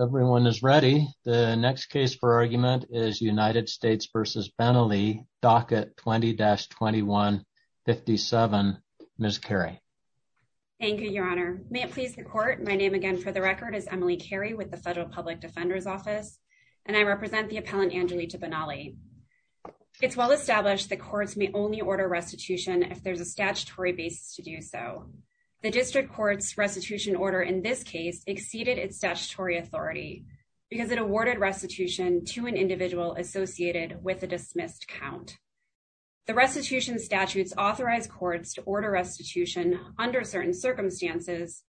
Everyone is ready. The next case for argument is United States v. Benally, docket 20-21-57. Ms. Carey. Thank you, Your Honor. May it please the court, my name again for the record is Emily Carey with the Federal Public Defender's Office and I represent the appellant Angelica Benally. It's well established the courts may only order restitution if there's a statutory basis to do so. The district court's restitution order in this case exceeded its statutory authority because it awarded restitution to an individual associated with a dismissed count. The restitution statutes authorize courts to order restitution under certain circumstances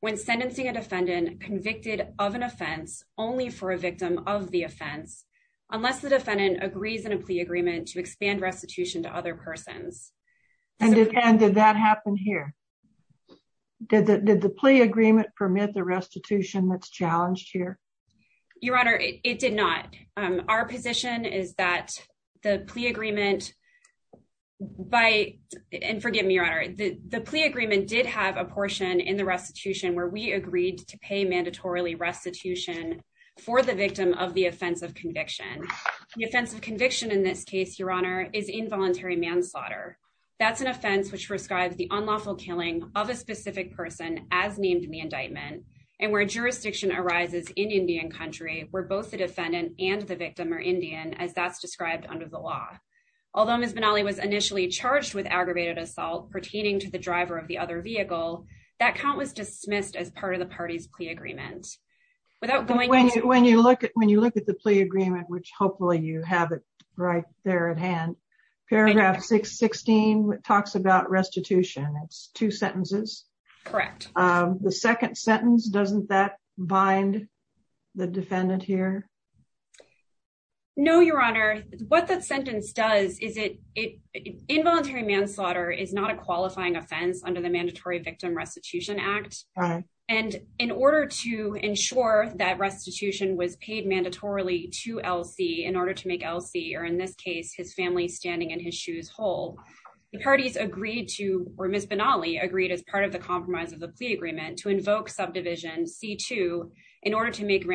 when sentencing a defendant convicted of an offense only for a victim of the offense unless the defendant agrees in a plea agreement to expand restitution to other persons. And did that happen here? Did the plea agreement permit the restitution that's challenged here? Your Honor, it did not. Our position is that the plea agreement by, and forgive me, Your Honor, the plea agreement did have a portion in the restitution where we agreed to pay mandatorily restitution for the victim of the offense of conviction. The offense of conviction in this case, Your Honor, is involuntary manslaughter. That's an offense which prescribes the unlawful killing of a specific person as named in the indictment and where jurisdiction arises in Indian country where both the defendant and the victim are Indian as that's described under the law. Although Ms. Benally was initially charged with aggravated assault pertaining to the driver of the other vehicle, that count was dismissed as part of the party's plea agreement. When you look at the plea agreement, which hopefully you have it right there at hand, paragraph 616 talks about restitution. It's two sentences. Correct. The second sentence, doesn't that bind the defendant here? No, Your Honor. What that sentence does is involuntary manslaughter is not a qualifying offense under the Mandatory Victim Restitution Act. And in order to ensure that restitution was paid mandatorily to LC in order to make LC, or in this case, his family standing in his shoes whole, the parties agreed to, or Ms. Benally agreed as part of the compromise of the plea agreement, to invoke subdivision C2 in order to make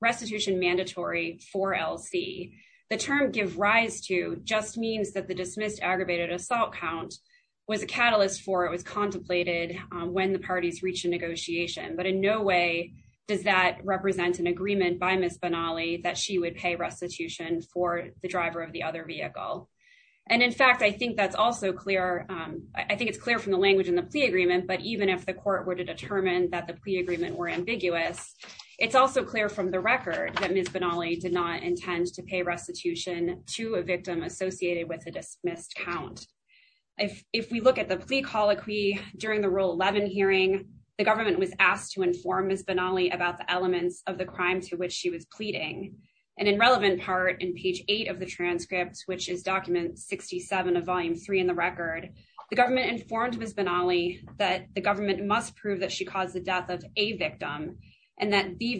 restitution mandatory for LC. The term give rise to just means that the dismissed aggravated assault count was a catalyst for it was contemplated when the parties reached a negotiation. But in no way does that represent an agreement by Ms. Benally that she would pay restitution for the driver of the other vehicle. And in fact, I think that's also clear. I think it's clear from the language in the plea agreement, but even if the court were to determine that the plea agreement were ambiguous, it's also clear from the record that Ms. Benally did not intend to pay restitution to a victim associated with a dismissed count. If we look at the plea colloquy during the Rule 11 hearing, the government was asked to inform Ms. Benally about the elements of the crime to which she was pleading. And in relevant part in page eight of the transcript, which is document 67 of volume three in the record, the government informed Ms. Benally that the government must prove that she caused the death of a victim and that the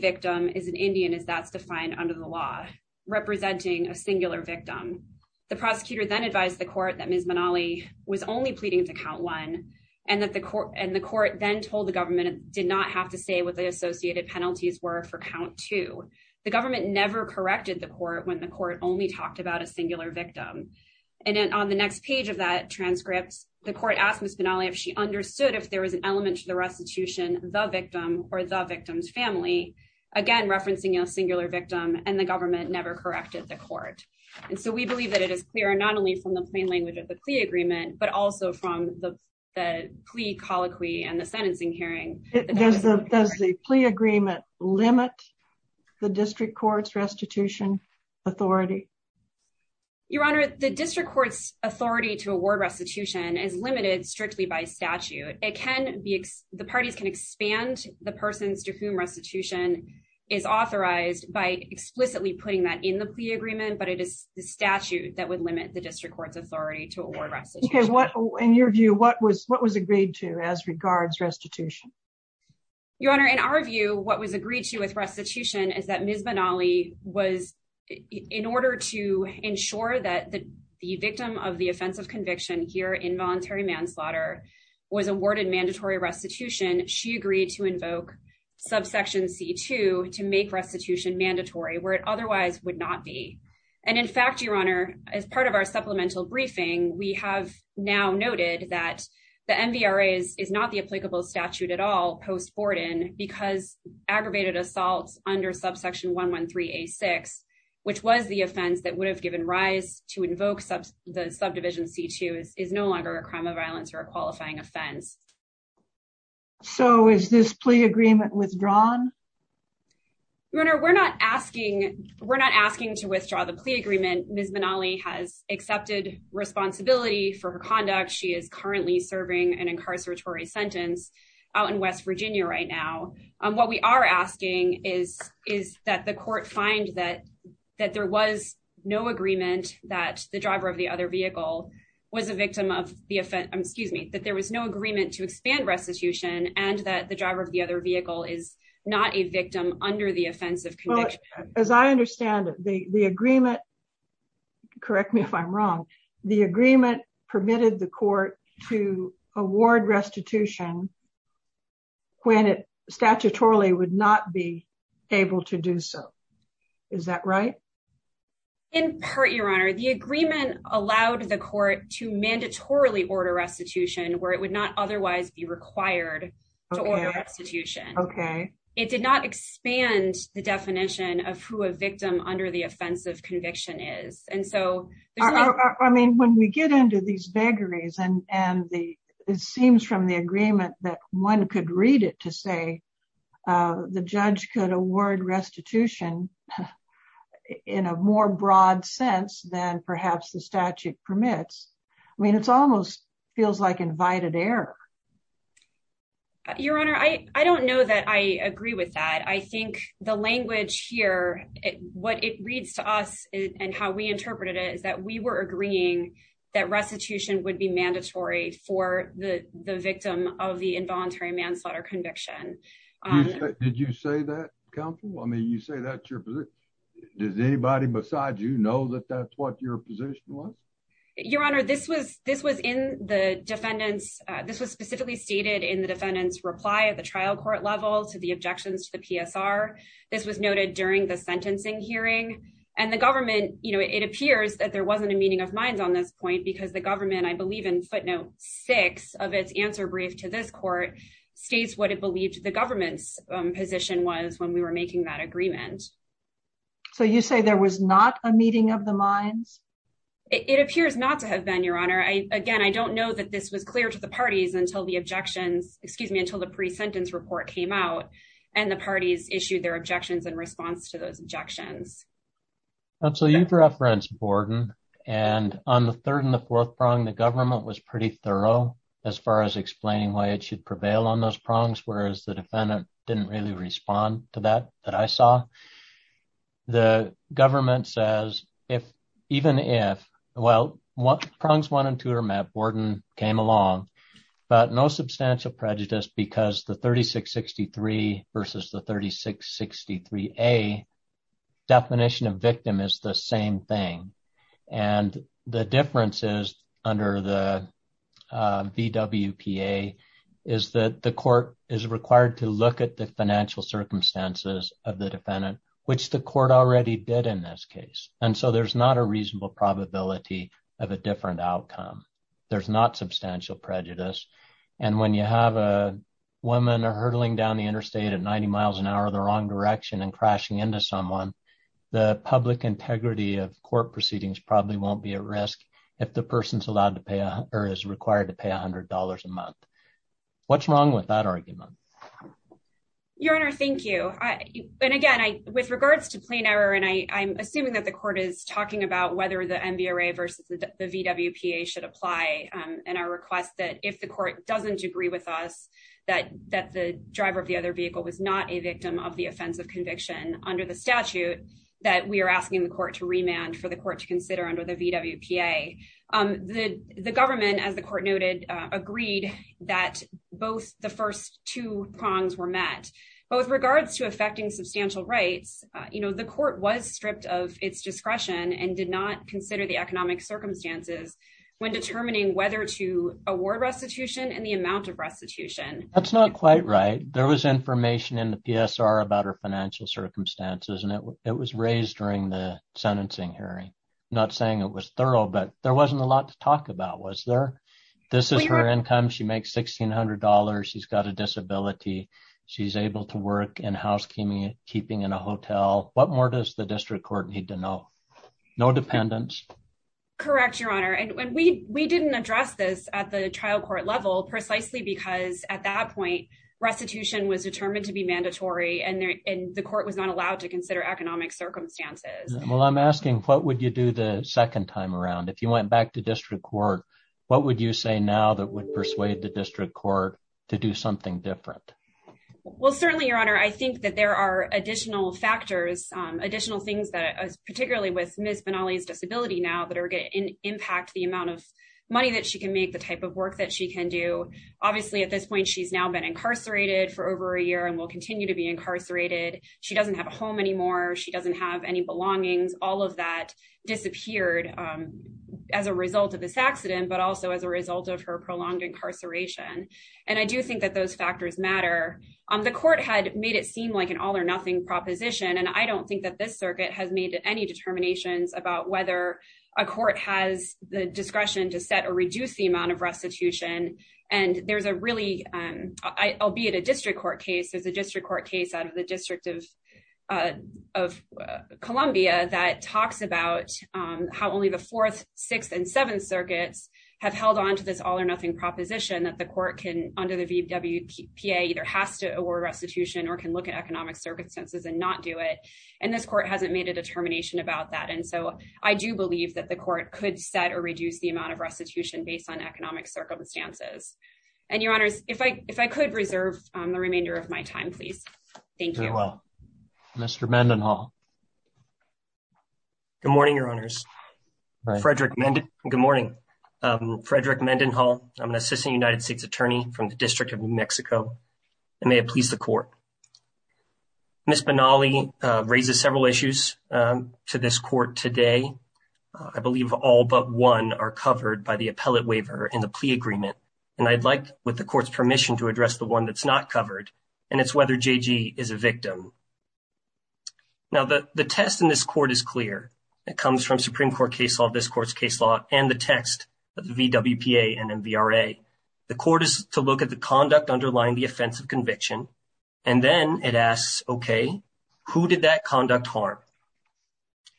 representing a singular victim. The prosecutor then advised the court that Ms. Benally was only pleading to count one and that the court and the court then told the government did not have to say what the associated penalties were for count two. The government never corrected the court when the court only talked about a singular victim. And then on the next page of that transcript, the court asked Ms. Benally if she understood if there was an element to the restitution, the victim or the family. Again, referencing a singular victim and the government never corrected the court. And so we believe that it is clear not only from the plain language of the plea agreement, but also from the plea colloquy and the sentencing hearing. Does the plea agreement limit the district court's restitution authority? Your Honor, the district court's authority to award restitution is limited strictly by statute. The parties can expand the persons to whom restitution is authorized by explicitly putting that in the plea agreement, but it is the statute that would limit the district court's authority to award restitution. In your view, what was what was agreed to as regards restitution? Your Honor, in our view, what was agreed to with restitution is that Ms. Benally was in order to ensure that the the victim of the offensive conviction here in voluntary manslaughter was awarded mandatory restitution. She agreed to invoke subsection C2 to make restitution mandatory where it otherwise would not be. And in fact, your Honor, as part of our supplemental briefing, we have now noted that the MVRA is not the applicable statute at all because aggravated assaults under subsection 113A6, which was the offense that would have given rise to invoke the subdivision C2, is no longer a crime of violence or a qualifying offense. So is this plea agreement withdrawn? Your Honor, we're not asking to withdraw the plea agreement. Ms. Benally has accepted responsibility for her conduct. She is currently serving an attorney in Virginia right now. What we are asking is is that the court find that that there was no agreement that the driver of the other vehicle was a victim of the offense, excuse me, that there was no agreement to expand restitution and that the driver of the other vehicle is not a victim under the offensive conviction. As I understand it, the the agreement, correct me if I'm wrong, the agreement permitted the court to award restitution when it statutorily would not be able to do so. Is that right? In part, your Honor, the agreement allowed the court to mandatorily order restitution where it would not otherwise be required to order restitution. Okay. It did not expand the definition of who a victim under the offensive conviction is. And so I mean, when we get into these vagaries and and the it seems from the agreement that one could read it to say the judge could award restitution in a more broad sense than perhaps the statute permits. I mean, it's almost feels like invited air. Your Honor, I don't know that I agree with that. I think the language here, what it reads to us and how we interpreted it is that we were agreeing that restitution would be mandatory for the victim of the involuntary manslaughter conviction. Did you say that, counsel? I mean, you say that's your position. Does anybody besides you know that that's what your position was? Your Honor, this was this was in the defendant's. This was specifically stated in the defendant's reply at the trial court level to the objections to the PSR. This was noted during the sentencing hearing. And the government, you know, it appears that there wasn't a meeting of minds on this point because the government, I believe in footnote six of its answer brief to this court states what it believed the government's position was when we were making that agreement. So you say there was not a meeting of the minds? It appears not to have been, Your Honor. Again, I don't know that this was clear to the parties until the objections, excuse me, until the pre-sentence report came out and the parties issued their objections in response to those objections. Counsel, you've referenced Borden and on the third and the fourth prong, the government was pretty thorough as far as explaining why it should prevail on those prongs, whereas the defendant didn't really respond to that that I saw. The government says even if, well, prongs one and two are met, Borden came along, but no substantial prejudice because the 3663 versus the 3663A definition of victim is the same thing. And the difference is under the VWPA is that the court is required to look at the financial circumstances of the defendant, which the court already did in this case. And so there's not a reasonable probability of a different outcome. There's not substantial prejudice. And when you have a woman hurtling down the interstate at 90 miles an hour, the wrong direction and crashing into someone, the public integrity of court proceedings probably won't be at risk if the person's allowed to pay, or is required to pay a hundred dollars a month. What's wrong with that argument? Your Honor, thank you. And again, with regards to plain error, and I'm assuming that the court is talking about whether the MVRA versus the VWPA should apply. And I request that if the court doesn't agree with us, that the driver of the other vehicle was not a victim of the offense of conviction under the statute that we are asking the court to remand for the court to remand. But with regards to affecting substantial rights, the court was stripped of its discretion and did not consider the economic circumstances when determining whether to award restitution and the amount of restitution. That's not quite right. There was information in the PSR about her financial circumstances, and it was raised during the sentencing hearing. Not saying it was thorough, but there wasn't a lot to talk about, was there? This is her income. She makes $1,600. She's got a disability. She's able to work in housekeeping in a hotel. What more does the district court need to know? No dependents. Correct, Your Honor. And we didn't address this at the trial court level, precisely because at that point, restitution was determined to be mandatory and the court was not allowed to consider economic circumstances. Well, I'm asking, what would you do the second time around? If you went back to district court, what would you say now that would persuade the district court to do something different? Well, certainly, Your Honor, I think that there are additional factors, additional things that, particularly with Ms. Benally's disability now, that are going to impact the amount of money that she can make, the type of work that she can do. Obviously, at this point, she's now been incarcerated for over a year and will continue to be incarcerated. She doesn't have a home anymore. She doesn't have any belongings. All of that disappeared as a result of this accident, but also as a result of her prolonged incarceration. And I do think that those factors matter. The court had made it seem like an all or nothing proposition, and I don't think that this circuit has made any determinations about whether a court has the discretion to set or reduce the amount of restitution. And there's a really, albeit a district court case, there's a district court case out of the District of Columbia that talks about how only the Fourth, Sixth, and Seventh Circuits have held on to this all or nothing proposition that the court can, under the VWPA, either has to award restitution or can look at economic circumstances and not do it, and this court hasn't made a determination about that. And so, I do believe that the court could set or reduce the amount of restitution based on economic circumstances. And, Your Honors, if I could reserve the remainder of my time, please. Thank you. Very well. Mr. Mendenhall. Good morning, Your Honors. Frederick Mendenhall. Good morning. Frederick Mendenhall. I'm an assistant United States attorney from the District of New Mexico, and may it please the court. Ms. Benally raises several issues to this court today. I believe all but one are covered by the appellate waiver in the plea agreement, and I'd like, with the court's permission, to address the one that's not covered, and it's whether J.G. is a victim. Now, the test in this court is clear. It comes from Supreme Court case law, this court's case law, and the text of the VWPA and MVRA. The court is to look at the conduct underlying the offense of conviction, and then it asks, okay, who did that conduct harm?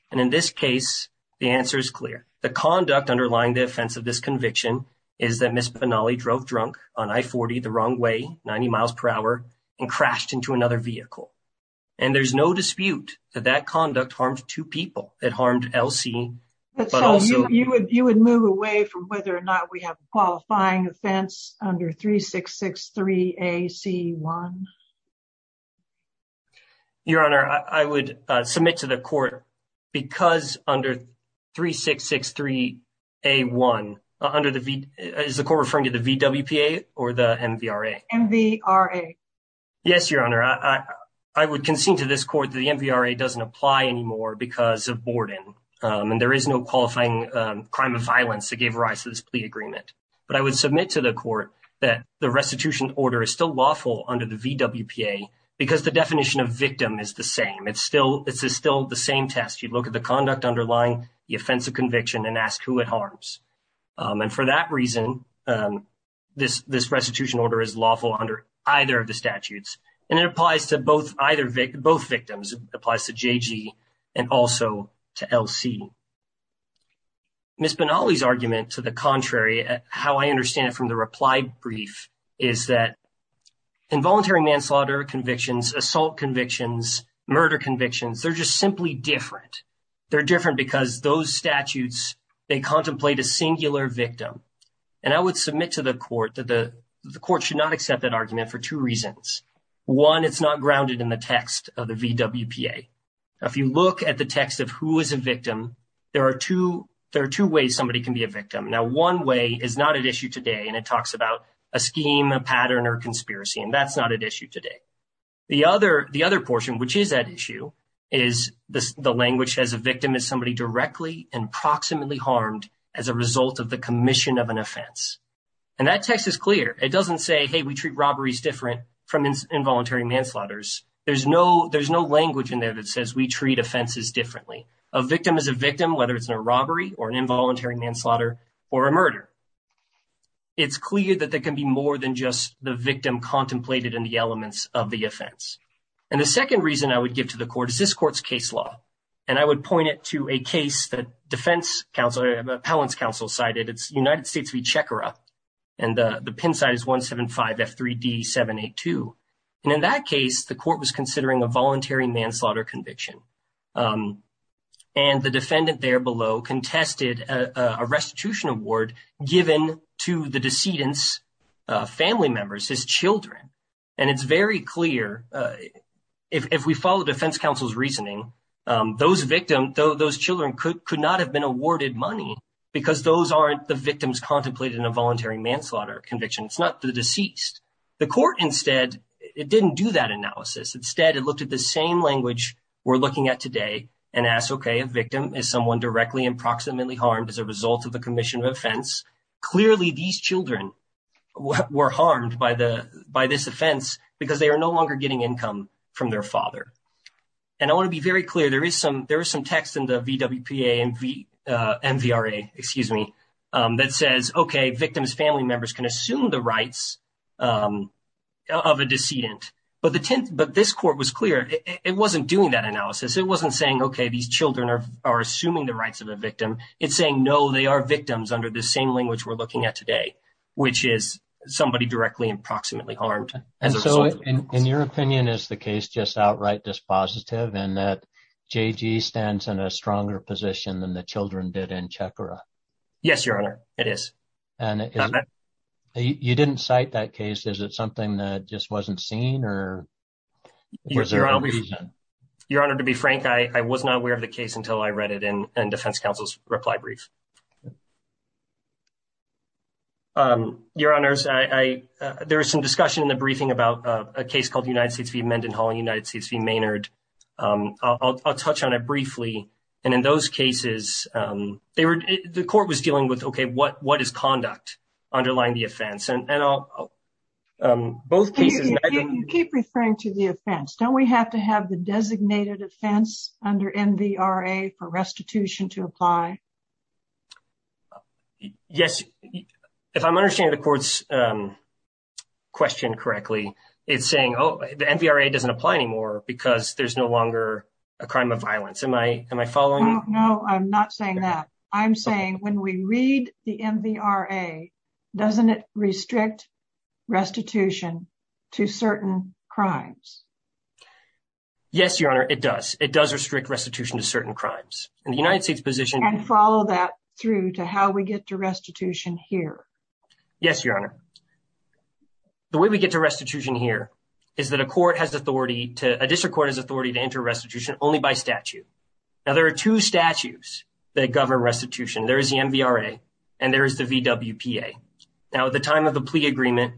And, in this case, the answer is clear. The conduct underlying the offense of this conviction is that Ms. Benally drove drunk on I-40 the wrong way, 90 miles per hour, and crashed into another vehicle. And there's no dispute that that conduct harmed two people. It harmed Elsie, but also... You would move away from whether or not we have a qualifying offense under 3663AC1? Your Honor, I would submit to the court, because under 3663A1, is the court referring to the VWPA or the MVRA? MVRA. Yes, Your Honor, I would concede to this that MVRA doesn't apply anymore because of Borden, and there is no qualifying crime of violence that gave rise to this plea agreement. But I would submit to the court that the restitution order is still lawful under the VWPA, because the definition of victim is the same. It's still... It's still the same test. You look at the conduct underlying the offense of conviction and ask who it harms. And for that reason, this restitution order is lawful under either of the statutes, and it applies to both victims. It applies to JG and also to Elsie. Ms. Benally's argument to the contrary, how I understand it from the reply brief, is that involuntary manslaughter convictions, assault convictions, murder convictions, they're just simply different. They're different because those statutes, they contemplate a singular victim. And I would submit to the court that the court should not accept that argument for two reasons. One, it's not grounded in the text of the VWPA. If you look at the text of who is a victim, there are two ways somebody can be a victim. Now, one way is not at issue today, and it talks about a scheme, a pattern, or a conspiracy, and that's not at issue today. The other portion, which is at issue, is the language as a victim is somebody directly and proximately harmed as a result of the commission of an offense. And that text is clear. It doesn't say, hey, we treat robberies different from involuntary manslaughter. There's no language in there that says we treat offenses differently. A victim is a victim, whether it's in a robbery or an involuntary manslaughter or a murder. It's clear that there can be more than just the victim contemplated in the elements of the offense. And the second reason I would give to the court is this court's case law. And I would point it to a case that defense counsel, Appellant's counsel, cited. It's United is 175F3D782. And in that case, the court was considering a voluntary manslaughter conviction. And the defendant there below contested a restitution award given to the decedent's family members, his children. And it's very clear, if we follow defense counsel's reasoning, those victims, those children could not have been awarded money because those aren't the victims contemplated in a voluntary manslaughter conviction. It's not the deceased. The court instead, it didn't do that analysis. Instead, it looked at the same language we're looking at today and asked, OK, a victim is someone directly and proximately harmed as a result of the commission of offense. Clearly, these children were harmed by this offense because they are no longer getting income from their father. And I want to be very clear, there is some text in the VWPA and MVRA, excuse me, that says, OK, victims' family members can assume the rights of a decedent. But this court was clear, it wasn't doing that analysis. It wasn't saying, OK, these children are assuming the rights of a victim. It's saying, no, they are victims under the same language we're looking at today, which is somebody directly and proximately harmed. And so, in your opinion, is the case just outright dispositive in that than the children did in Checkera? Yes, Your Honor, it is. And you didn't cite that case. Is it something that just wasn't seen or was there a reason? Your Honor, to be frank, I was not aware of the case until I read it in Defense Counsel's reply brief. Your Honors, there was some discussion in the briefing about a case called United States v. VWPA. And in those cases, the court was dealing with, OK, what is conduct underlying the offense? You keep referring to the offense. Don't we have to have the designated offense under MVRA for restitution to apply? Yes. If I'm understanding the court's question correctly, it's saying, oh, the MVRA doesn't apply anymore because there's no longer a crime of violence. Am I following? No, I'm not saying that. I'm saying when we read the MVRA, doesn't it restrict restitution to certain crimes? Yes, Your Honor, it does. It does restrict restitution to certain crimes. And the United States position... And follow that through to how we get to restitution here. Yes, Your Honor. The way we get to restitution here is that a court has authority to... A district court has authority to enter restitution only by statute. Now, there are two statutes that govern restitution. There is the MVRA and there is the VWPA. Now, at the time of the plea agreement,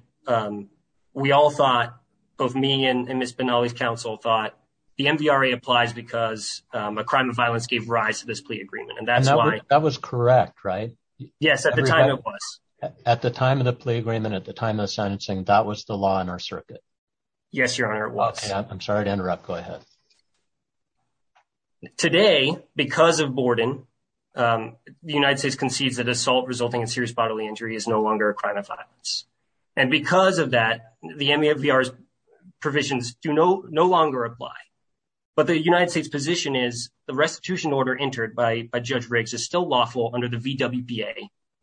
we all thought, both me and Ms. Benally's counsel thought the MVRA applies because a crime of violence gave rise to this plea agreement. And that's why... That was correct, right? Yes, at the time it was. At the time of the Yes, Your Honor, it was. I'm sorry to interrupt. Go ahead. Today, because of Borden, the United States concedes that assault resulting in serious bodily injury is no longer a crime of violence. And because of that, the MVRA's provisions do no longer apply. But the United States position is the restitution order entered by Judge Riggs is still lawful under the VWPA.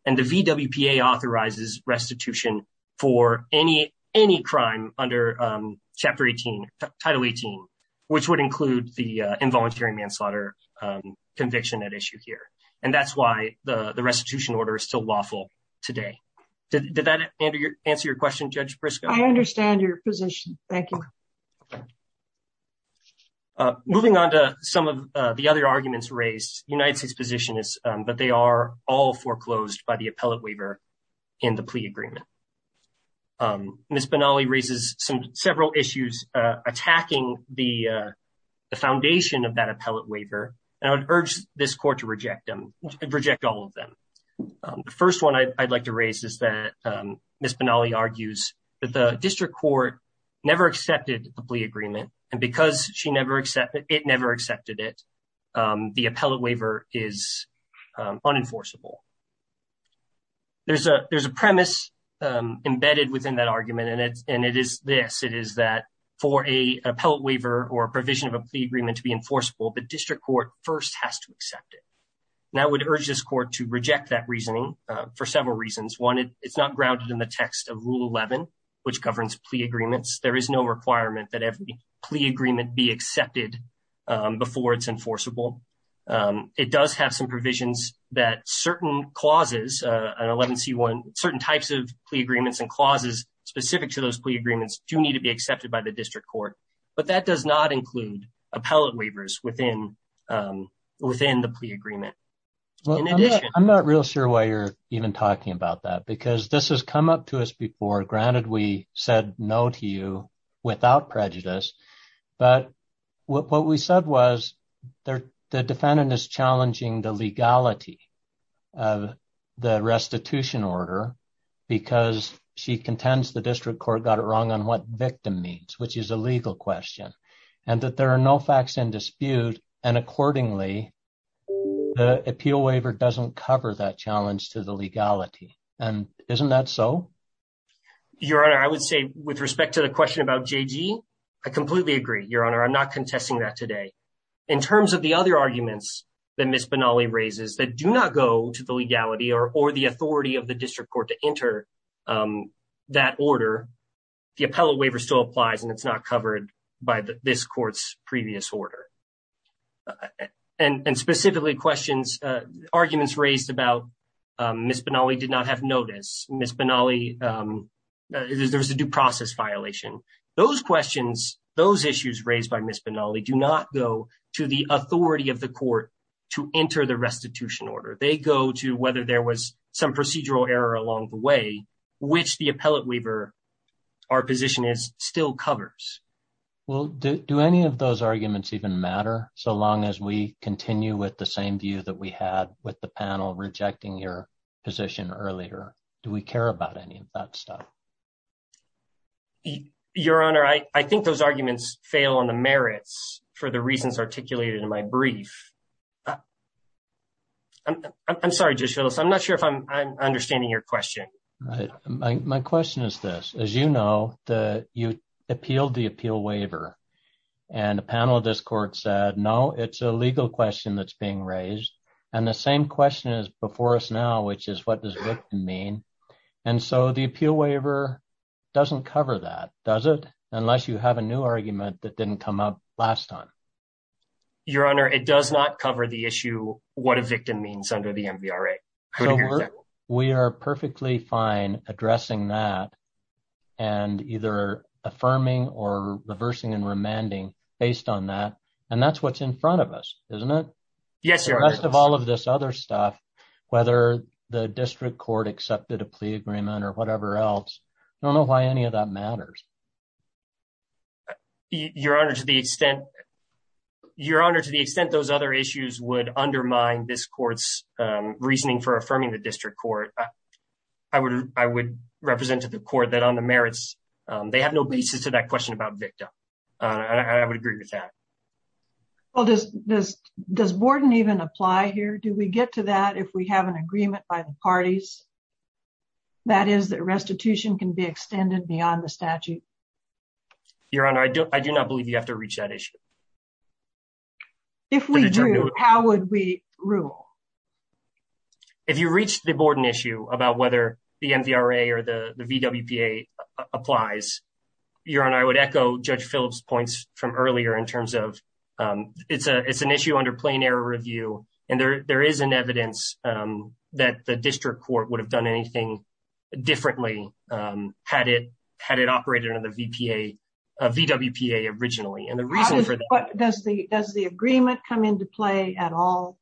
And the VWPA authorizes restitution for any crime under Title 18, which would include the involuntary manslaughter conviction at issue here. And that's why the restitution order is still lawful today. Did that answer your question, Judge Briscoe? I understand your position. Thank you. Okay. Moving on to some of the other arguments raised, the United States position is that they are all foreclosed by the appellate waiver in the plea agreement. Ms. Benally raises several issues attacking the foundation of that appellate waiver, and I would urge this Court to reject them, reject all of them. The first one I'd like to raise is that Ms. Benally argues that the District Court never accepted the plea agreement, and because it never accepted it, the appellate waiver is unenforceable. There's a premise embedded within that argument, and it is this. It is that for an appellate waiver or a provision of a plea agreement to be enforceable, the District Court first has to accept it. And I would urge this Court to reject that reasoning for several reasons. It's not grounded in the text of Rule 11, which governs plea agreements. There is no requirement that every plea agreement be accepted before it's enforceable. It does have some provisions that certain clauses, 11C1, certain types of plea agreements and clauses specific to those plea agreements do need to be accepted by the District Court, but that does not include appellate waivers within the plea agreement. In addition... Because this has come up to us before. Granted, we said no to you without prejudice, but what we said was the defendant is challenging the legality of the restitution order because she contends the District Court got it wrong on what victim means, which is a legal question, and that there are no facts in dispute. And accordingly, the appeal waiver doesn't cover that challenge to the legality. And isn't that so? Your Honor, I would say with respect to the question about J.G., I completely agree, Your Honor. I'm not contesting that today. In terms of the other arguments that Ms. Benally raises that do not go to the legality or the authority of the District Court to enter that order, the appellate waiver still applies and it's not covered by this Court's previous order. And specifically questions... Arguments raised about Ms. Benally did not have notice. Ms. Benally... There was a due process violation. Those questions, those issues raised by Ms. Benally do not go to the authority of the Court to enter the restitution order. They go to whether there was some procedural error along the way, which the appellate waiver, our position is, still covers. Well, do any of those arguments even matter, so long as we continue with the same view that we had with the panel rejecting your position earlier? Do we care about any of that stuff? Your Honor, I think those arguments fail on the merits for the reasons articulated in my brief. I'm sorry, Judge Phillips. I'm not sure if I'm understanding your question. My question is this. As you know, you appealed the appeal waiver and a panel of this Court said, no, it's a legal question that's being raised. And the same question is before us now, which is what does victim mean? And so the appeal waiver doesn't cover that, does it? Unless you have a new argument that didn't come up last time. Your Honor, it does not cover the issue what a victim means under the MVRA. So we are perfectly fine addressing that and either affirming or reversing and remanding based on that. And that's what's in front of us, isn't it? Yes, Your Honor. The rest of all of this other stuff, whether the District Court accepted a plea agreement or whatever else, I don't know why any of that matters. Your Honor, to the extent those other issues would undermine this Court's reasoning for affirming the District Court, I would represent to the Court that on the merits, they have no basis to that question about victim. I would agree with that. Well, does Borden even apply here? Do we get to that if we have an agreement by the parties? That is that restitution can be extended beyond the statute? Your Honor, I do not believe you have to reach that issue. If we do, how would we rule? If you reach the Borden issue about whether the MVRA or the VWPA applies, Your Honor, I would echo Judge Phillips' points from earlier in terms of it's an issue under plain error review and there is an evidence that the District Court would have done anything differently had it operated under the VWPA originally. Does the agreement come into play at all?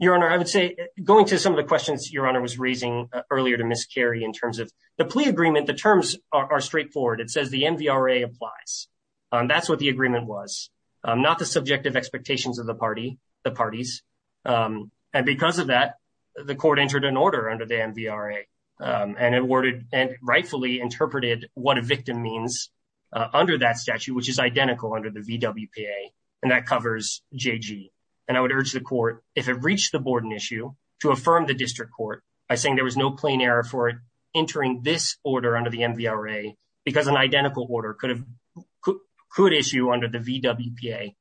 Your Honor, I would say going to some of the questions Your Honor was raising earlier to Ms. Carey in terms of the plea agreement, the terms are straightforward. It says the MVRA applies. That's what the agreement was, not the subjective expectations of the parties. And because of that, the Court entered an order under the MVRA and rightfully interpreted what a victim means under that statute, which is identical under the VWPA, and that covers JG. And I would urge the Court, if it reached the Borden issue, to affirm the District Court by saying there was no plain error for it entering this order under the MVRA because an identical order could issue under the VWPA.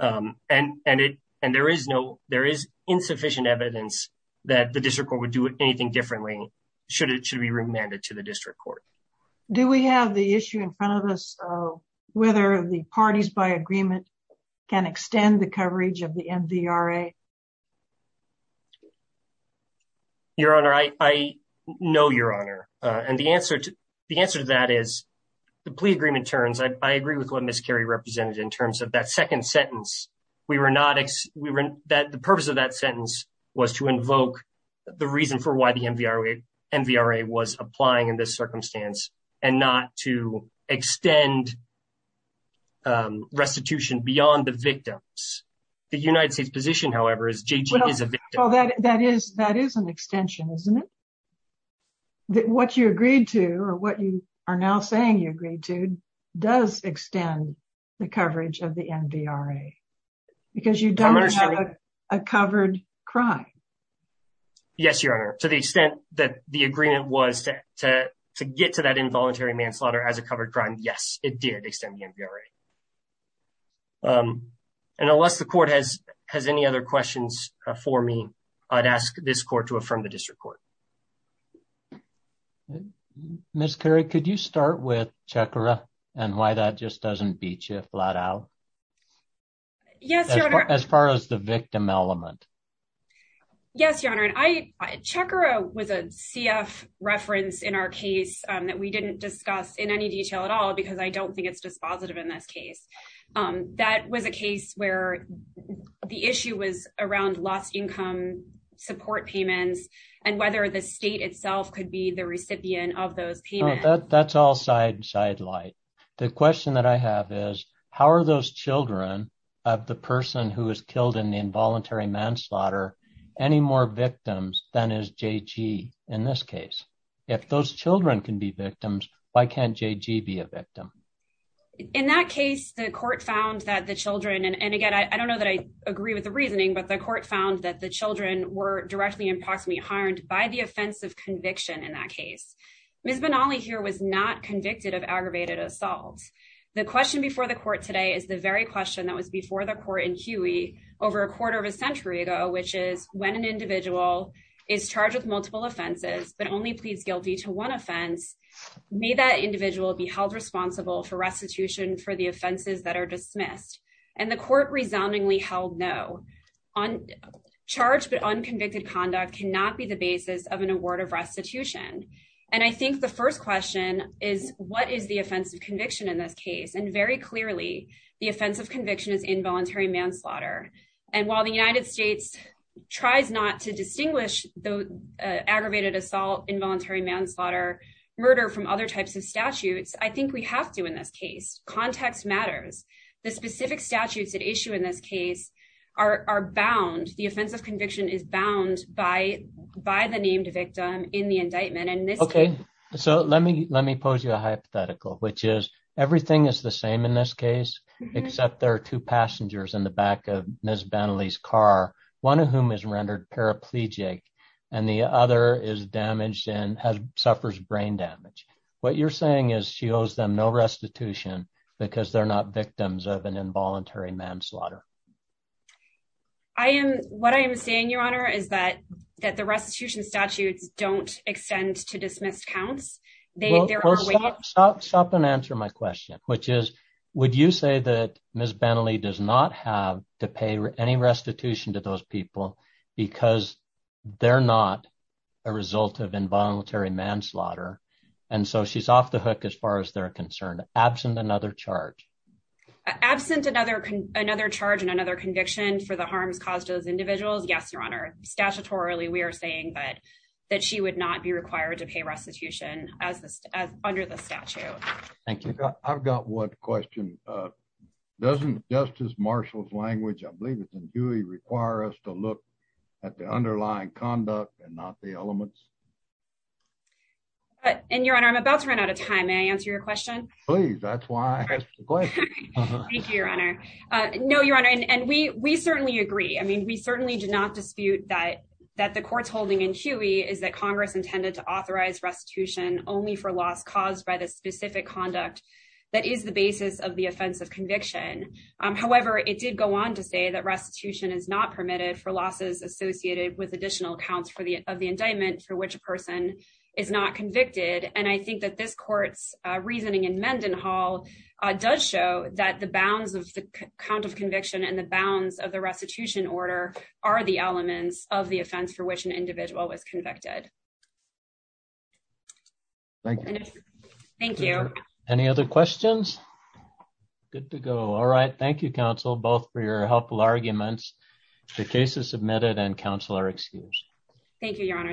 And there is insufficient evidence that the District Court would do anything differently should it be remanded to the District Court. Do we have the issue in front of us of whether the parties by agreement can extend the coverage of the MVRA? Your Honor, I know, Your Honor, and the answer to that is the plea agreement terms, I agree with what Ms. Carey represented in terms of that second sentence. The purpose of that sentence was to invoke the reason for why the MVRA was applying in and not to extend restitution beyond the victims. The United States position, however, is JG is a victim. Well, that is an extension, isn't it? What you agreed to, or what you are now saying you agreed to, does extend the coverage of the MVRA because you don't have a covered crime. Yes, Your Honor. To the extent that the agreement was to get to that involuntary manslaughter as a covered crime, yes, it did extend the MVRA. And unless the court has any other questions for me, I'd ask this court to affirm the District Court. Ms. Carey, could you start with Chakra and why that just doesn't beat you flat out? Yes, Your Honor. As far as the victim element. Yes, Your Honor. Chakra was a CF reference in our case that we didn't discuss in any detail at all because I don't think it's dispositive in this case. That was a case where the issue was around lost income support payments and whether the state itself could be the recipient of those payments. That's all side light. The question that I have is how are those children of the person who was killed in involuntary manslaughter any more victims than is JG in this case? If those children can be victims, why can't JG be a victim? In that case, the court found that the children and again, I don't know that I agree with the reasoning, but the court found that the children were directly and possibly harmed by the offensive conviction in that case. Ms. Benally here was not convicted of aggravated assault. The question before the court today is the very question that was before the court in Huey over a quarter of a century ago, which is when an individual is charged with multiple offenses, but only pleads guilty to one offense, may that individual be held responsible for restitution for the offenses that are dismissed? And the court resoundingly held no. Charged but unconvicted conduct cannot be the basis of an award of restitution. And I think the first question is what is the offensive conviction in this case? And very clearly, the offensive conviction is involuntary manslaughter. And while the United States tries not to distinguish the aggravated assault, involuntary manslaughter, murder from other types of statutes, I think we have to in this case. Context matters. The specific statutes at issue in this case are bound. The offensive conviction is bound by the named victim in the indictment. OK, so let me pose you a hypothetical, which is everything is the same in this case, except there are two passengers in the back of Ms. Bentley's car, one of whom is rendered paraplegic and the other is damaged and suffers brain damage. What you're saying is she owes them no restitution because they're not victims of an involuntary manslaughter. I am what I am saying, Your Honor, is that that the restitution statutes don't extend to dismissed counts. They there are some stop and answer my question, which is, would you say that Ms. Bentley does not have to pay any restitution to those people because they're not a result of involuntary manslaughter? And so she's off the hook as far as they're concerned. Absent another charge. Absent another charge and another conviction for the harms caused to those individuals. Yes, Your Honor. Statutorily, we are saying that she would not be required to pay restitution as under the statute. Thank you. I've got one question. Doesn't Justice Marshall's language, I believe it's in Dewey, require us to look at the underlying conduct and not the elements? And Your Honor, I'm about to run out of time. May I answer your question? Please. That's why I ask the question. Thank you, Your Honor. No, Your Honor. And we certainly agree. I mean, we certainly do not dispute that the court's holding in Huey is that Congress intended to authorize restitution only for loss caused by the specific conduct that is the basis of the offense of conviction. However, it did go on to say that restitution is not permitted for losses associated with additional counts of the indictment for which a person is not convicted. And I think that this court's reasoning in Mendenhall does show that the bounds of the count of conviction and the bounds of the restitution order are the elements of the offense for which an individual was convicted. Thank you. Thank you. Any other questions? Good to go. All right. Thank you, counsel, both for your helpful arguments. The case is submitted and counsel are excused. Thank you, Your Honor.